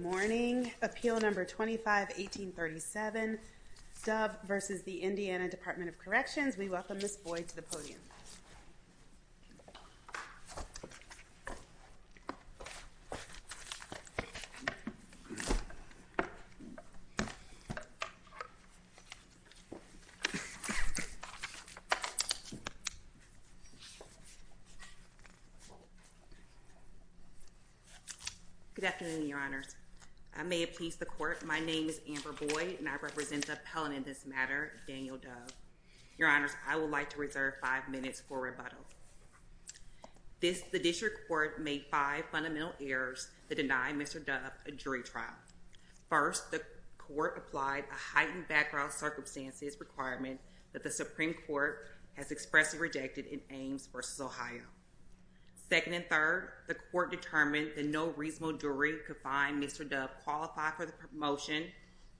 Morning, Appeal No. 25-1837, Dove v. the Indiana Department of Corrections. We welcome Ms. Boyd to the podium. Good afternoon, Your Honors. I may appease the Court. My name is Amber Boyd, and I represent the appellant in this matter, Daniel Dove. Your Honors, I would like to reserve five minutes for rebuttal. The District Court made five fundamental errors that deny Mr. Dove a jury trial. First, the Court applied a heightened background circumstances requirement that the Supreme Court has expressly rejected in Ames v. Ohio. Second and third, the Court determined that no reasonable jury could find Mr. Dove qualified for the promotion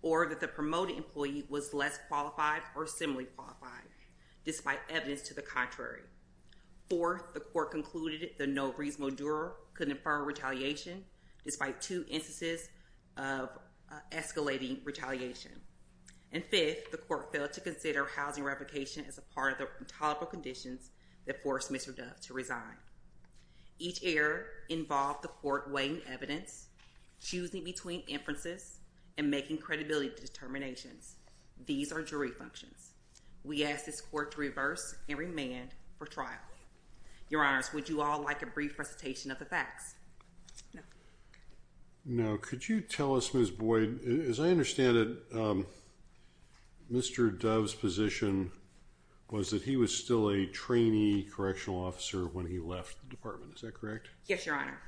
or that the promoted employee was less qualified or similarly qualified, despite evidence to the contrary. Fourth, the Court concluded that no reasonable juror could infer retaliation, despite two instances of escalating retaliation. And fifth, the Court failed to consider housing replication as a part of the intolerable conditions that forced Mr. Dove to resign. Each error involved the Court weighing evidence, choosing between inferences, and making credibility determinations. These are jury functions. We ask this Court to reverse and remand for trial. Your Honors, would you all like a brief presentation of the facts? Now, could you tell us, Ms. Boyd, as I understand it, Mr. Dove's position was that he was still a trainee correctional officer when he left the department. Is that correct? Yes, Your Honor.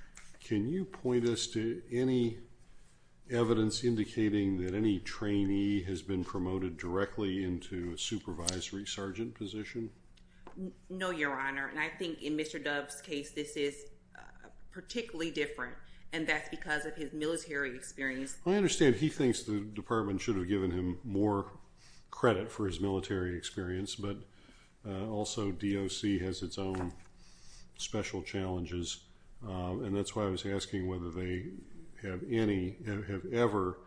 Can you point us to any evidence indicating that any trainee has been promoted directly into a supervisory sergeant position? No, Your Honor, and I think in Mr. Dove's case, this is particularly different, and that's because of his military experience. I understand he thinks the department should have given him more credit for his military experience, but also DOC has its own special challenges, and that's why I was asking whether they have ever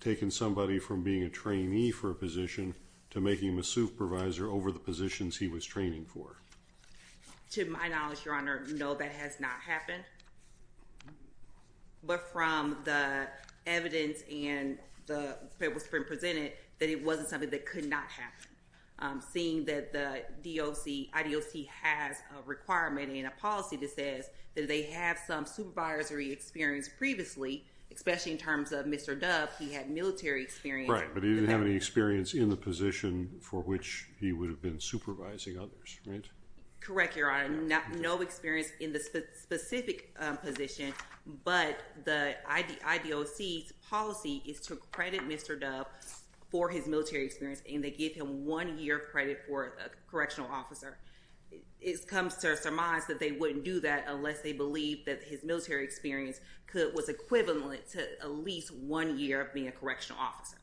taken somebody from being a trainee for a position to making them a supervisor over the positions he was training for. To my knowledge, Your Honor, no, that has not happened. But from the evidence that was presented, that it wasn't something that could not happen. Seeing that the IDOC has a requirement and a policy that says that they have some supervisory experience previously, especially in terms of Mr. Dove, he had military experience. Right, but he didn't have any experience in the position for which he would have been supervising others, right? Correct, Your Honor. He had no experience in the specific position, but the IDOC's policy is to credit Mr. Dove for his military experience, and they give him one year of credit for a correctional officer. It comes to our surmise that they wouldn't do that unless they believe that his military experience was equivalent to at least one year of being a correctional officer.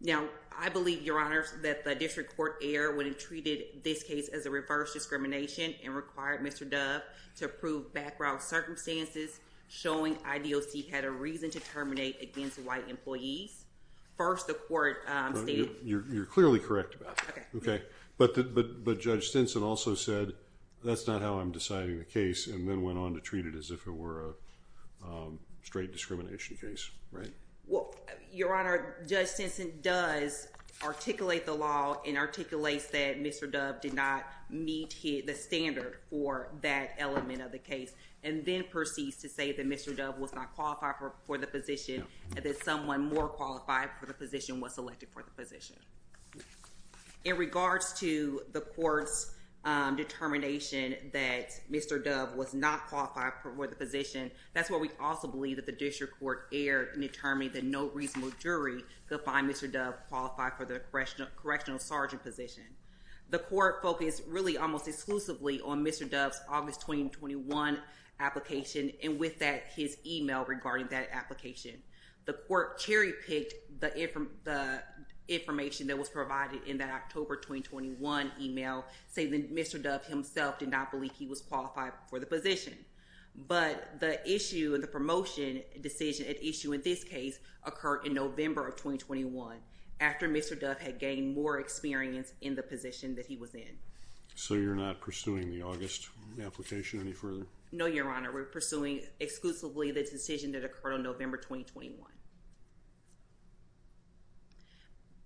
Now, I believe, Your Honor, that the district court error would have treated this case as a reverse discrimination and required Mr. Dove to prove background circumstances showing IDOC had a reason to terminate against white employees. First, the court stated... You're clearly correct about that. Okay. But Judge Stinson also said, that's not how I'm deciding the case, and then went on to treat it as if it were a straight discrimination case, right? Well, Your Honor, Judge Stinson does articulate the law and articulates that Mr. Dove did not meet the standard for that element of the case, and then proceeds to say that Mr. Dove was not qualified for the position, and that someone more qualified for the position was selected for the position. In regards to the court's determination that Mr. Dove was not qualified for the position, that's where we also believe that the district court error determined that no reasonable jury could find Mr. Dove qualified for the correctional sergeant position. The court focused really almost exclusively on Mr. Dove's August 2021 application, and with that, his email regarding that application. The court cherry-picked the information that was provided in that October 2021 email, saying that Mr. Dove himself did not believe he was qualified for the position. But the issue, the promotion decision at issue in this case, occurred in November of 2021, after Mr. Dove had gained more experience in the position that he was in. So you're not pursuing the August application any further? No, Your Honor, we're pursuing exclusively the decision that occurred on November 2021.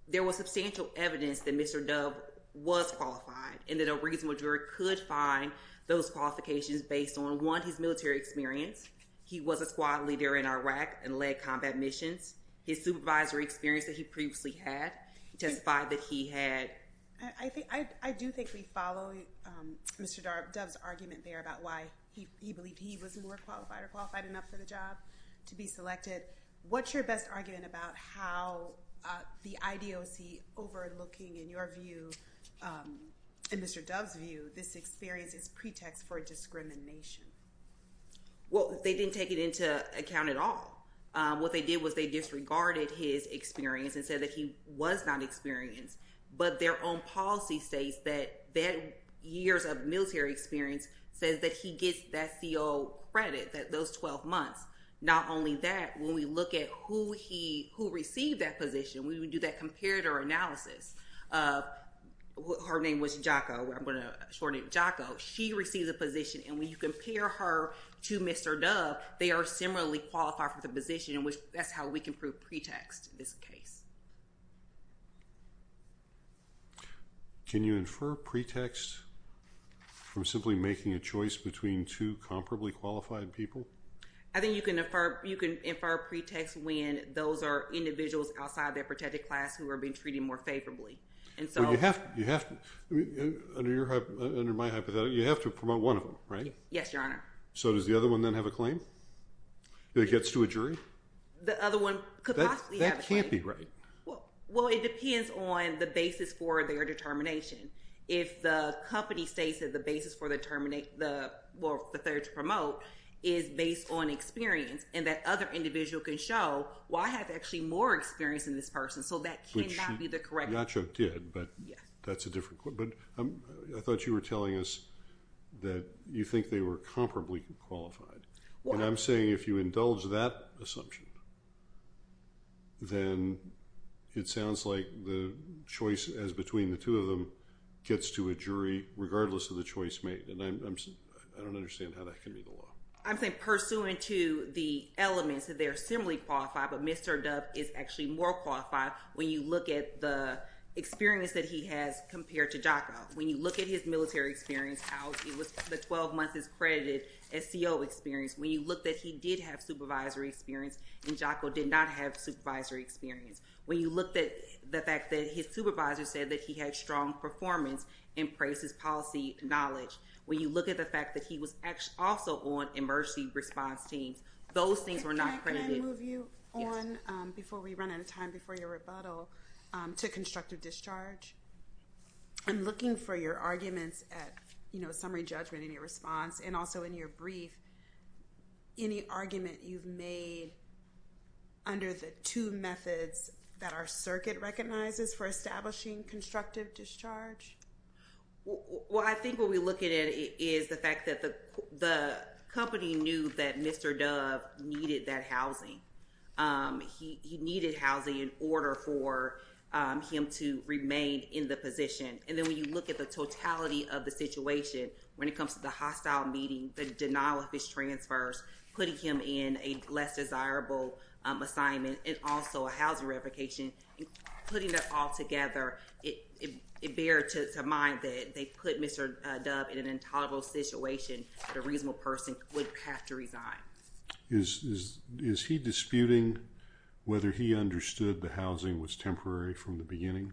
There was substantial evidence that Mr. Dove was qualified, and that a reasonable jury could find those qualifications based on, one, his military experience. He was a squad leader in Iraq and led combat missions. His supervisory experience that he previously had testified that he had... I do think we follow Mr. Dove's argument there about why he believed he was more qualified or qualified enough for the job to be selected. What's your best argument about how the IDOC, overlooking, in your view, in Mr. Dove's view, this experience is pretext for discrimination? Well, they didn't take it into account at all. What they did was they disregarded his experience and said that he was not experienced. But their own policy states that years of military experience says that he gets that COO credit, those 12 months. Not only that, when we look at who received that position, we would do that comparator analysis. Her name was Jaco. I'm going to shorten it, Jaco. And when you compare her to Mr. Dove, they are similarly qualified for the position, and that's how we can prove pretext in this case. Can you infer pretext from simply making a choice between two comparably qualified people? I think you can infer pretext when those are individuals outside their protected class who are being treated more favorably. Under my hypothetical, you have to promote one of them, right? Yes, Your Honor. So does the other one then have a claim? That it gets to a jury? The other one could possibly have a claim. That can't be right. Well, it depends on the basis for their determination. If the company states that the basis for the third to promote is based on experience and that other individual can show, well, I have actually more experience than this person, so that cannot be the correct claim. Jaco did, but that's a different claim. But I thought you were telling us that you think they were comparably qualified. And I'm saying if you indulge that assumption, then it sounds like the choice as between the two of them gets to a jury regardless of the choice made. And I don't understand how that can be the law. I'm saying pursuant to the elements that they are similarly qualified, but Mr. Dubb is actually more qualified when you look at the experience that he has compared to Jaco. When you look at his military experience, how it was the 12 months as credited as CO experience. When you look that he did have supervisory experience and Jaco did not have supervisory experience. When you looked at the fact that his supervisor said that he had strong performance and praised his policy knowledge. When you look at the fact that he was also on emergency response teams, those things were not credited. Can I move you on before we run out of time before your rebuttal to constructive discharge? I'm looking for your arguments at summary judgment in your response and also in your brief. Any argument you've made under the two methods that our circuit recognizes for establishing constructive discharge? Well, I think what we're looking at is the fact that the company knew that Mr. Dubb needed that housing. He needed housing in order for him to remain in the position. And then when you look at the totality of the situation, when it comes to the hostile meeting, the denial of his transfers, putting him in a less desirable assignment, and also a housing revocation. Putting that all together, it bears to mind that they put Mr. Dubb in an intolerable situation that a reasonable person would have to resign. Is he disputing whether he understood the housing was temporary from the beginning?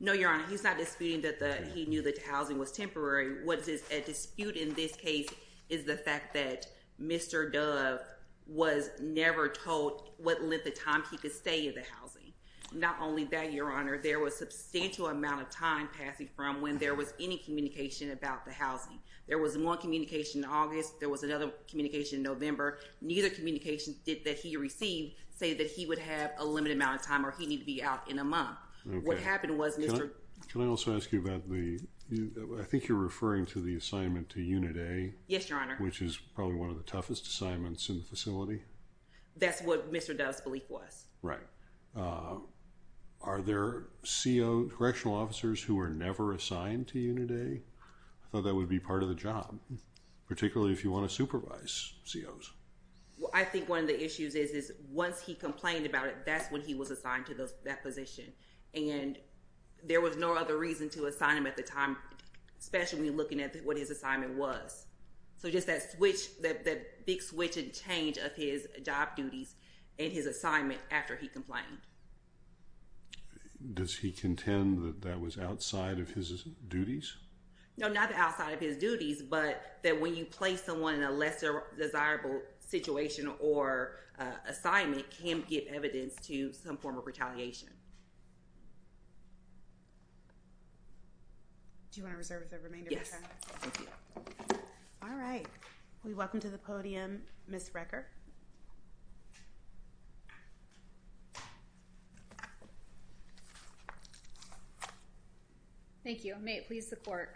No, Your Honor. He's not disputing that he knew that the housing was temporary. What is at dispute in this case is the fact that Mr. Dubb was never told what length of time he could stay in the housing. Not only that, Your Honor, there was a substantial amount of time passing from when there was any communication about the housing. There was one communication in August. There was another communication in November. Neither communication that he received said that he would have a limited amount of time or he'd need to be out in a month. What happened was Mr.— Can I also ask you about the—I think you're referring to the assignment to Unit A. Yes, Your Honor. Which is probably one of the toughest assignments in the facility. That's what Mr. Dubb's belief was. Right. Are there CO—correctional officers who are never assigned to Unit A? I thought that would be part of the job, particularly if you want to supervise COs. Well, I think one of the issues is once he complained about it, that's when he was assigned to that position. And there was no other reason to assign him at the time, especially when you're looking at what his assignment was. So just that switch, that big switch and change of his job duties and his assignment after he complained. Does he contend that that was outside of his duties? No, not outside of his duties. But that when you place someone in a less desirable situation or assignment can give evidence to some form of retaliation. Do you want to reserve the remainder of your time? Thank you. All right. Will you welcome to the podium Ms. Recker? Thank you. May it please the court.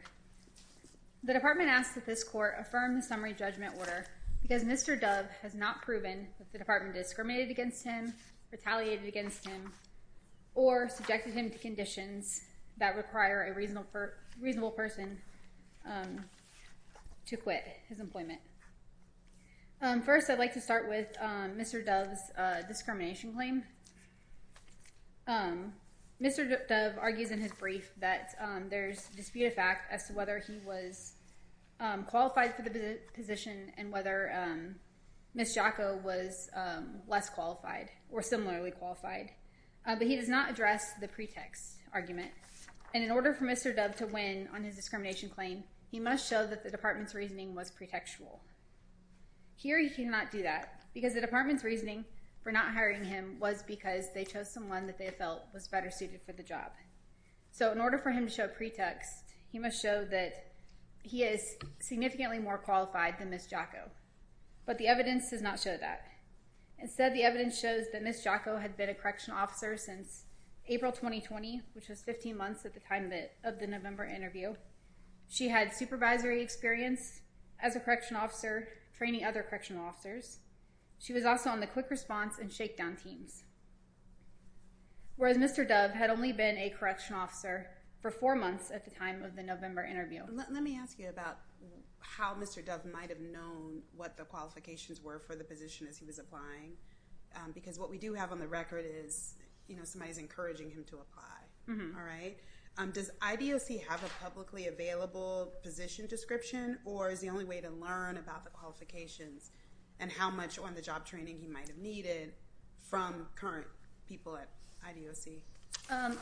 The department asks that this court affirm the summary judgment order because Mr. Dubb has not proven that the department discriminated against him, retaliated against him, or subjected him to conditions that require a reasonable person to quit his employment. First, I'd like to start with Mr. Dubb's discrimination claim. Mr. Dubb argues in his brief that there's dispute of fact as to whether he was qualified for the position and whether Ms. Jaco was less qualified or similarly qualified. But he does not address the pretext argument. And in order for Mr. Dubb to win on his discrimination claim, he must show that the department's reasoning was pretextual. Here he cannot do that because the department's reasoning for not hiring him was because they chose someone that they felt was better suited for the job. So in order for him to show pretext, he must show that he is significantly more qualified than Ms. Jaco. But the evidence does not show that. Instead, the evidence shows that Ms. Jaco had been a correctional officer since April 2020, which was 15 months at the time of the November interview. She had supervisory experience as a correctional officer, training other correctional officers. She was also on the quick response and shakedown teams. Whereas Mr. Dubb had only been a correctional officer for four months at the time of the November interview. Let me ask you about how Mr. Dubb might have known what the qualifications were for the position as he was applying. Because what we do have on the record is, you know, somebody's encouraging him to apply. All right. Does IDOC have a publicly available position description? Or is the only way to learn about the qualifications and how much on the job training he might have needed from current people at IDOC?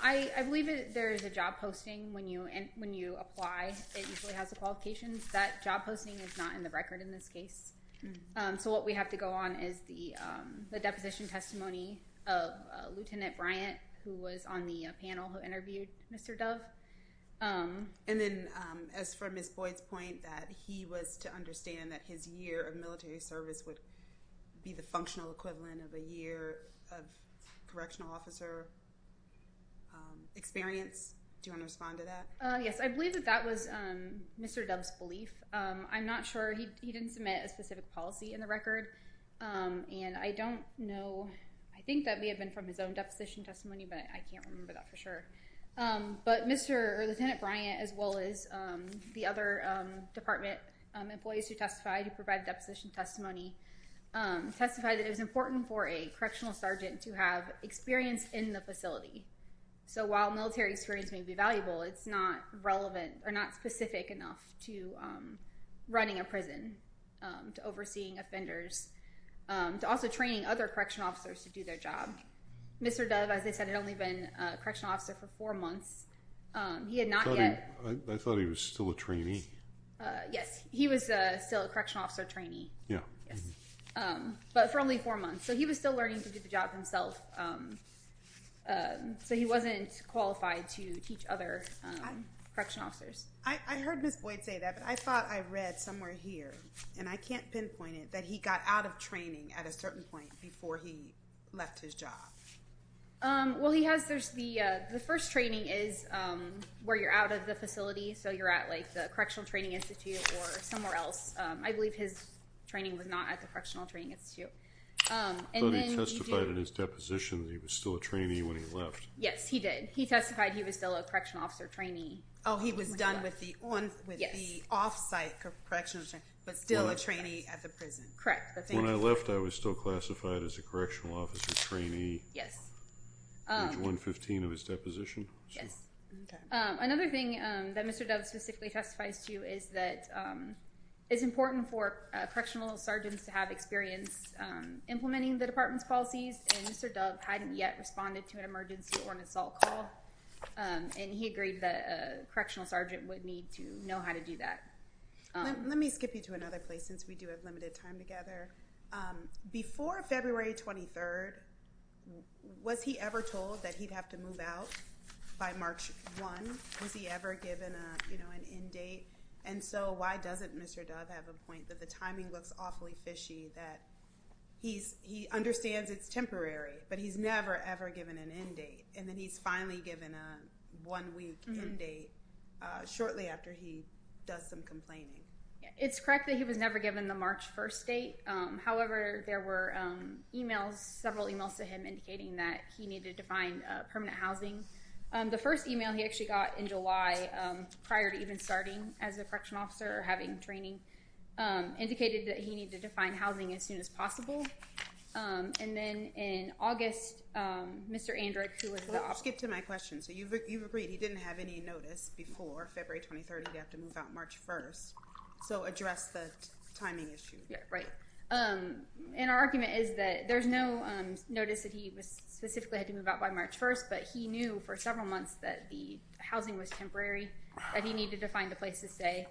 I believe there is a job posting when you when you apply. It usually has the qualifications that job posting is not in the record in this case. So what we have to go on is the deposition testimony of Lieutenant Bryant, who was on the panel who interviewed Mr. Dubb. And then as for Ms. Boyd's point that he was to understand that his year of military service would be the functional equivalent of a year of correctional officer experience. Do you want to respond to that? Yes, I believe that that was Mr. Dubb's belief. I'm not sure he didn't submit a specific policy in the record. And I don't know. I think that may have been from his own deposition testimony, but I can't remember that for sure. But Mr. or Lieutenant Bryant, as well as the other department employees who testified to provide deposition testimony, testified that it was important for a correctional sergeant to have experience in the facility. So while military experience may be valuable, it's not relevant or not specific enough to running a prison, to overseeing offenders, to also training other correctional officers to do their job. Mr. Dubb, as I said, had only been a correctional officer for four months. He had not yet. I thought he was still a trainee. Yes, he was still a correctional officer trainee. Yeah. But for only four months. So he was still learning to do the job himself. So he wasn't qualified to teach other correctional officers. I heard Ms. Boyd say that, but I thought I read somewhere here, and I can't pinpoint it, that he got out of training at a certain point before he left his job. Well, he has. The first training is where you're out of the facility. So you're at the Correctional Training Institute or somewhere else. I believe his training was not at the Correctional Training Institute. I thought he testified in his deposition that he was still a trainee when he left. Yes, he did. He testified he was still a correctional officer trainee. Oh, he was done with the off-site correctional training, but still a trainee at the prison. Correct. When I left, I was still classified as a correctional officer trainee. Yes. Page 115 of his deposition. Yes. Another thing that Mr. Dove specifically testifies to is that it's important for correctional sergeants to have experience implementing the department's policies, and Mr. Dove hadn't yet responded to an emergency or an assault call, and he agreed that a correctional sergeant would need to know how to do that. Let me skip you to another place since we do have limited time together. Before February 23rd, was he ever told that he'd have to move out by March 1? Was he ever given an end date? And so why doesn't Mr. Dove have a point that the timing looks awfully fishy that he understands it's temporary, but he's never, ever given an end date, and then he's finally given a one-week end date shortly after he does some complaining? It's correct that he was never given the March 1st date. However, there were emails, several emails to him, indicating that he needed to find permanent housing. The first email he actually got in July prior to even starting as a correctional officer or having training indicated that he needed to find housing as soon as possible. And then in August, Mr. Andrick, who was the officer— Let me skip to my question. So you've agreed he didn't have any notice before February 23rd he'd have to move out March 1st. So address the timing issue. And our argument is that there's no notice that he specifically had to move out by March 1st, but he knew for several months that the housing was temporary, that he needed to find a place to stay.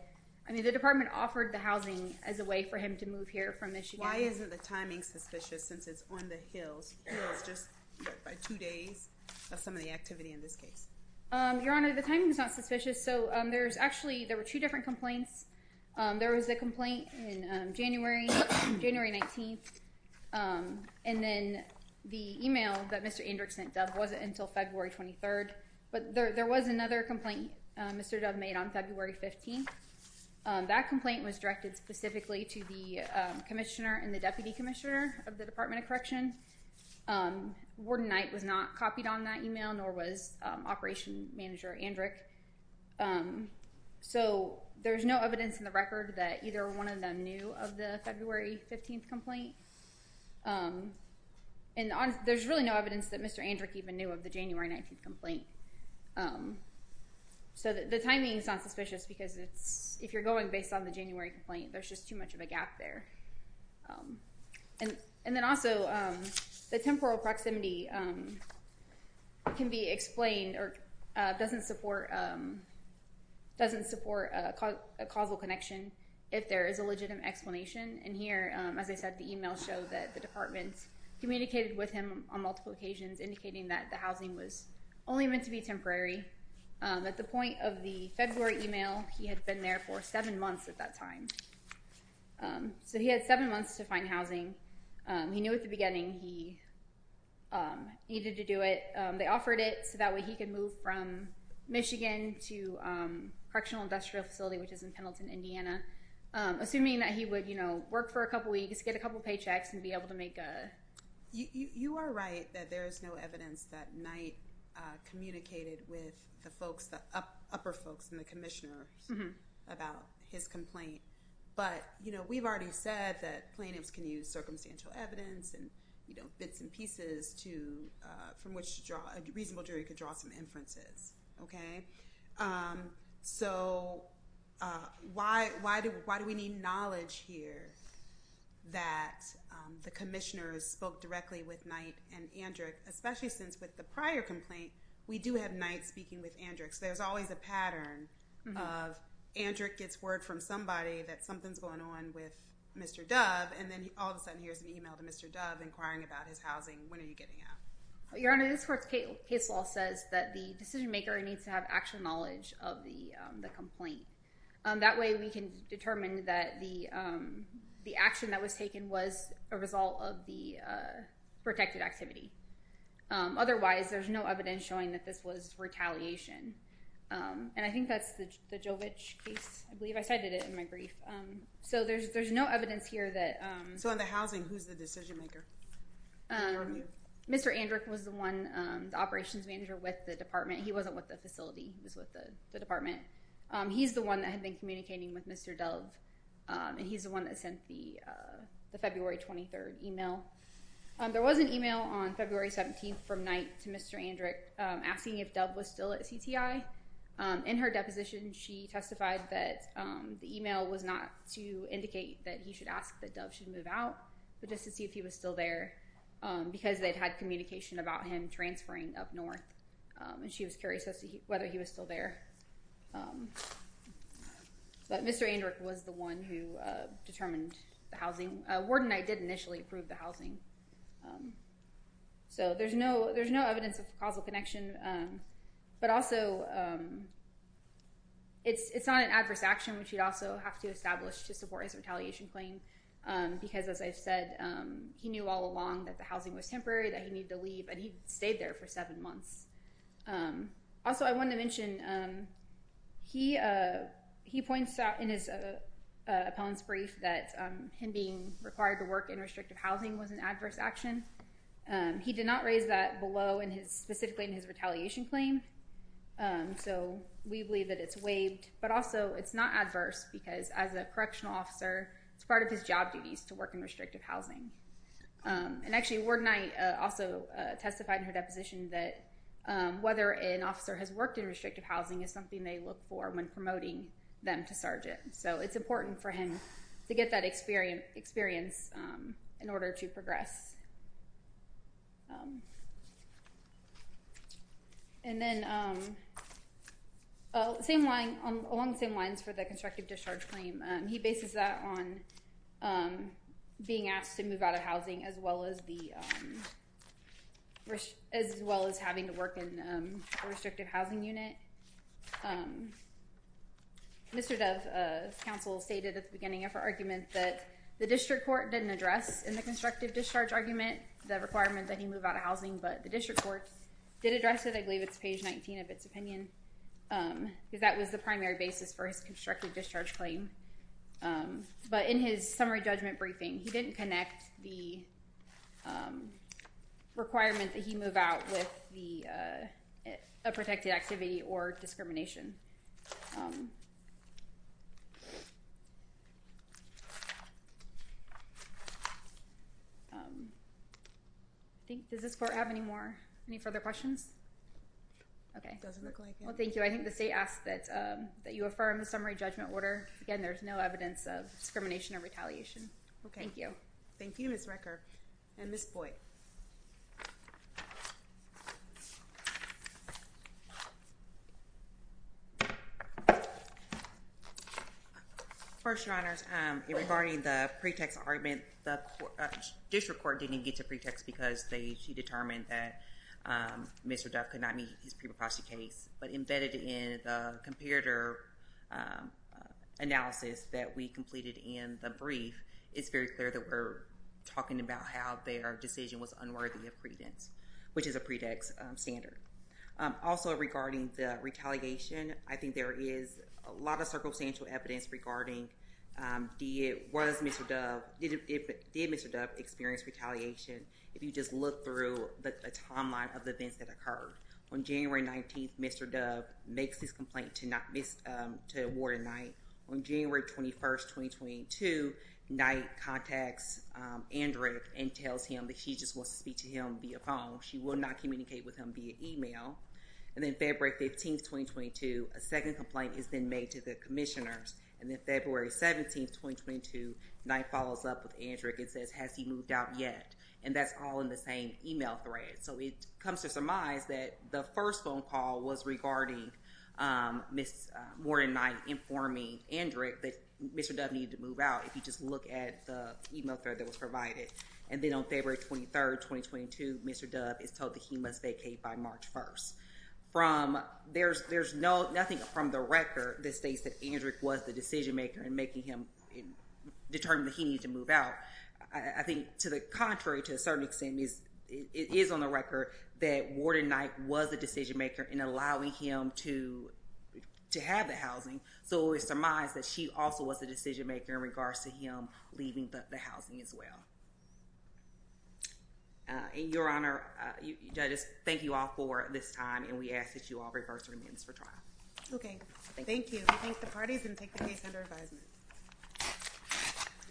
I mean, the department offered the housing as a way for him to move here from Michigan. Why isn't the timing suspicious since it's on the hills? It's just by two days. That's some of the activity in this case. Your Honor, the timing is not suspicious. So there's actually—there were two different complaints. There was a complaint in January 19th, and then the email that Mr. Andrick sent Dove wasn't until February 23rd. But there was another complaint Mr. Dove made on February 15th. That complaint was directed specifically to the commissioner and the deputy commissioner of the Department of Correction. Warden Knight was not copied on that email, nor was Operation Manager Andrick. So there's no evidence in the record that either one of them knew of the February 15th complaint. And there's really no evidence that Mr. Andrick even knew of the January 19th complaint. So the timing is not suspicious because if you're going based on the January complaint, there's just too much of a gap there. And then also, the temporal proximity can be explained or doesn't support a causal connection if there is a legitimate explanation. And here, as I said, the email showed that the department communicated with him on multiple occasions, indicating that the housing was only meant to be temporary. At the point of the February email, he had been there for seven months at that time. So he had seven months to find housing. He knew at the beginning he needed to do it. They offered it so that way he could move from Michigan to Correctional Industrial Facility, which is in Pendleton, Indiana, assuming that he would, you know, work for a couple weeks, get a couple paychecks, and be able to make a— You are right that there is no evidence that Knight communicated with the folks, the upper folks and the commissioners about his complaint. But, you know, we've already said that plaintiffs can use circumstantial evidence and, you know, bits and pieces from which a reasonable jury could draw some inferences. Okay? So why do we need knowledge here that the commissioners spoke directly with Knight and Andrick, especially since with the prior complaint, we do have Knight speaking with Andrick. So there's always a pattern of Andrick gets word from somebody that something's going on with Mr. Dove, and then all of a sudden here's an email to Mr. Dove inquiring about his housing. When are you getting out? Your Honor, this court's case law says that the decision-maker needs to have actual knowledge of the complaint. That way we can determine that the action that was taken was a result of the protected activity. Otherwise, there's no evidence showing that this was retaliation. And I think that's the Jovich case, I believe. I cited it in my brief. So there's no evidence here that— So in the housing, who's the decision-maker? Mr. Andrick was the one, the operations manager with the department. He wasn't with the facility. He was with the department. He's the one that had been communicating with Mr. Dove, and he's the one that sent the February 23rd email. There was an email on February 17th from Knight to Mr. Andrick asking if Dove was still at CTI. In her deposition, she testified that the email was not to indicate that he should ask that Dove should move out, but just to see if he was still there because they'd had communication about him transferring up north. And she was curious as to whether he was still there. But Mr. Andrick was the one who determined the housing. Warden Knight did initially approve the housing. So there's no evidence of causal connection. But also, it's not an adverse action, which you'd also have to establish to support his retaliation claim because, as I've said, he knew all along that the housing was temporary, that he needed to leave, and he stayed there for seven months. Also, I wanted to mention he points out in his appellant's brief that him being required to work in restrictive housing was an adverse action. He did not raise that below specifically in his retaliation claim. So we believe that it's waived. But also, it's not adverse because, as a correctional officer, it's part of his job duties to work in restrictive housing. And actually, Warden Knight also testified in her deposition that whether an officer has worked in restrictive housing is something they look for when promoting them to sergeant. So it's important for him to get that experience in order to progress. And then along the same lines for the constructive discharge claim, he bases that on being asked to move out of housing as well as having to work in a restrictive housing unit. Mr. Dove's counsel stated at the beginning of her argument that the district court didn't address in the constructive discharge argument the requirement that he move out of housing, but the district court did address it. I believe it's page 19 of its opinion because that was the primary basis for his constructive discharge claim. But in his summary judgment briefing, he didn't connect the requirement that he move out with a protected activity or discrimination. Does this court have any further questions? Okay. It doesn't look like it. Well, thank you. I think the state asks that you affirm the summary judgment order. Again, there's no evidence of discrimination or retaliation. Okay. Thank you. Thank you, Ms. Reker. And Ms. Boyd. First, Your Honors, regarding the pretext argument, the district court didn't get to pretext because they determined that Mr. Dove could not meet his pre-proposal case, but embedded in the comparator analysis that we completed in the brief, it's very clear that we're talking about how their decision was unworthy of credence, which is a pretext standard. Also, regarding the retaliation, I think there is a lot of circumstantial evidence regarding did Mr. Dove experience retaliation. If you just look through the timeline of the events that occurred. On January 19th, Mr. Dove makes his complaint to award a night. On January 21st, 2022, Knight contacts Andrick and tells him that she just wants to speak to him via phone. She will not communicate with him via email. And then February 15th, 2022, a second complaint is then made to the commissioners. And then February 17th, 2022, Knight follows up with Andrick and says, has he moved out yet? And that's all in the same email thread. So it comes to surmise that the first phone call was regarding Ms. Morden Knight informing Andrick that Mr. Dove needed to move out. If you just look at the email thread that was provided. And then on February 23rd, 2022, Mr. Dove is told that he must vacate by March 1st. There's nothing from the record that states that Andrick was the decision maker in making him determine that he needed to move out. I think to the contrary, to a certain extent, it is on the record that Morden Knight was the decision maker in allowing him to have the housing. So it was surmised that she also was the decision maker in regards to him leaving the housing as well. Your Honor, judges, thank you all for this time. And we ask that you all reverse your amendments for trial. Okay, thank you. We thank the parties and take the case under advisement.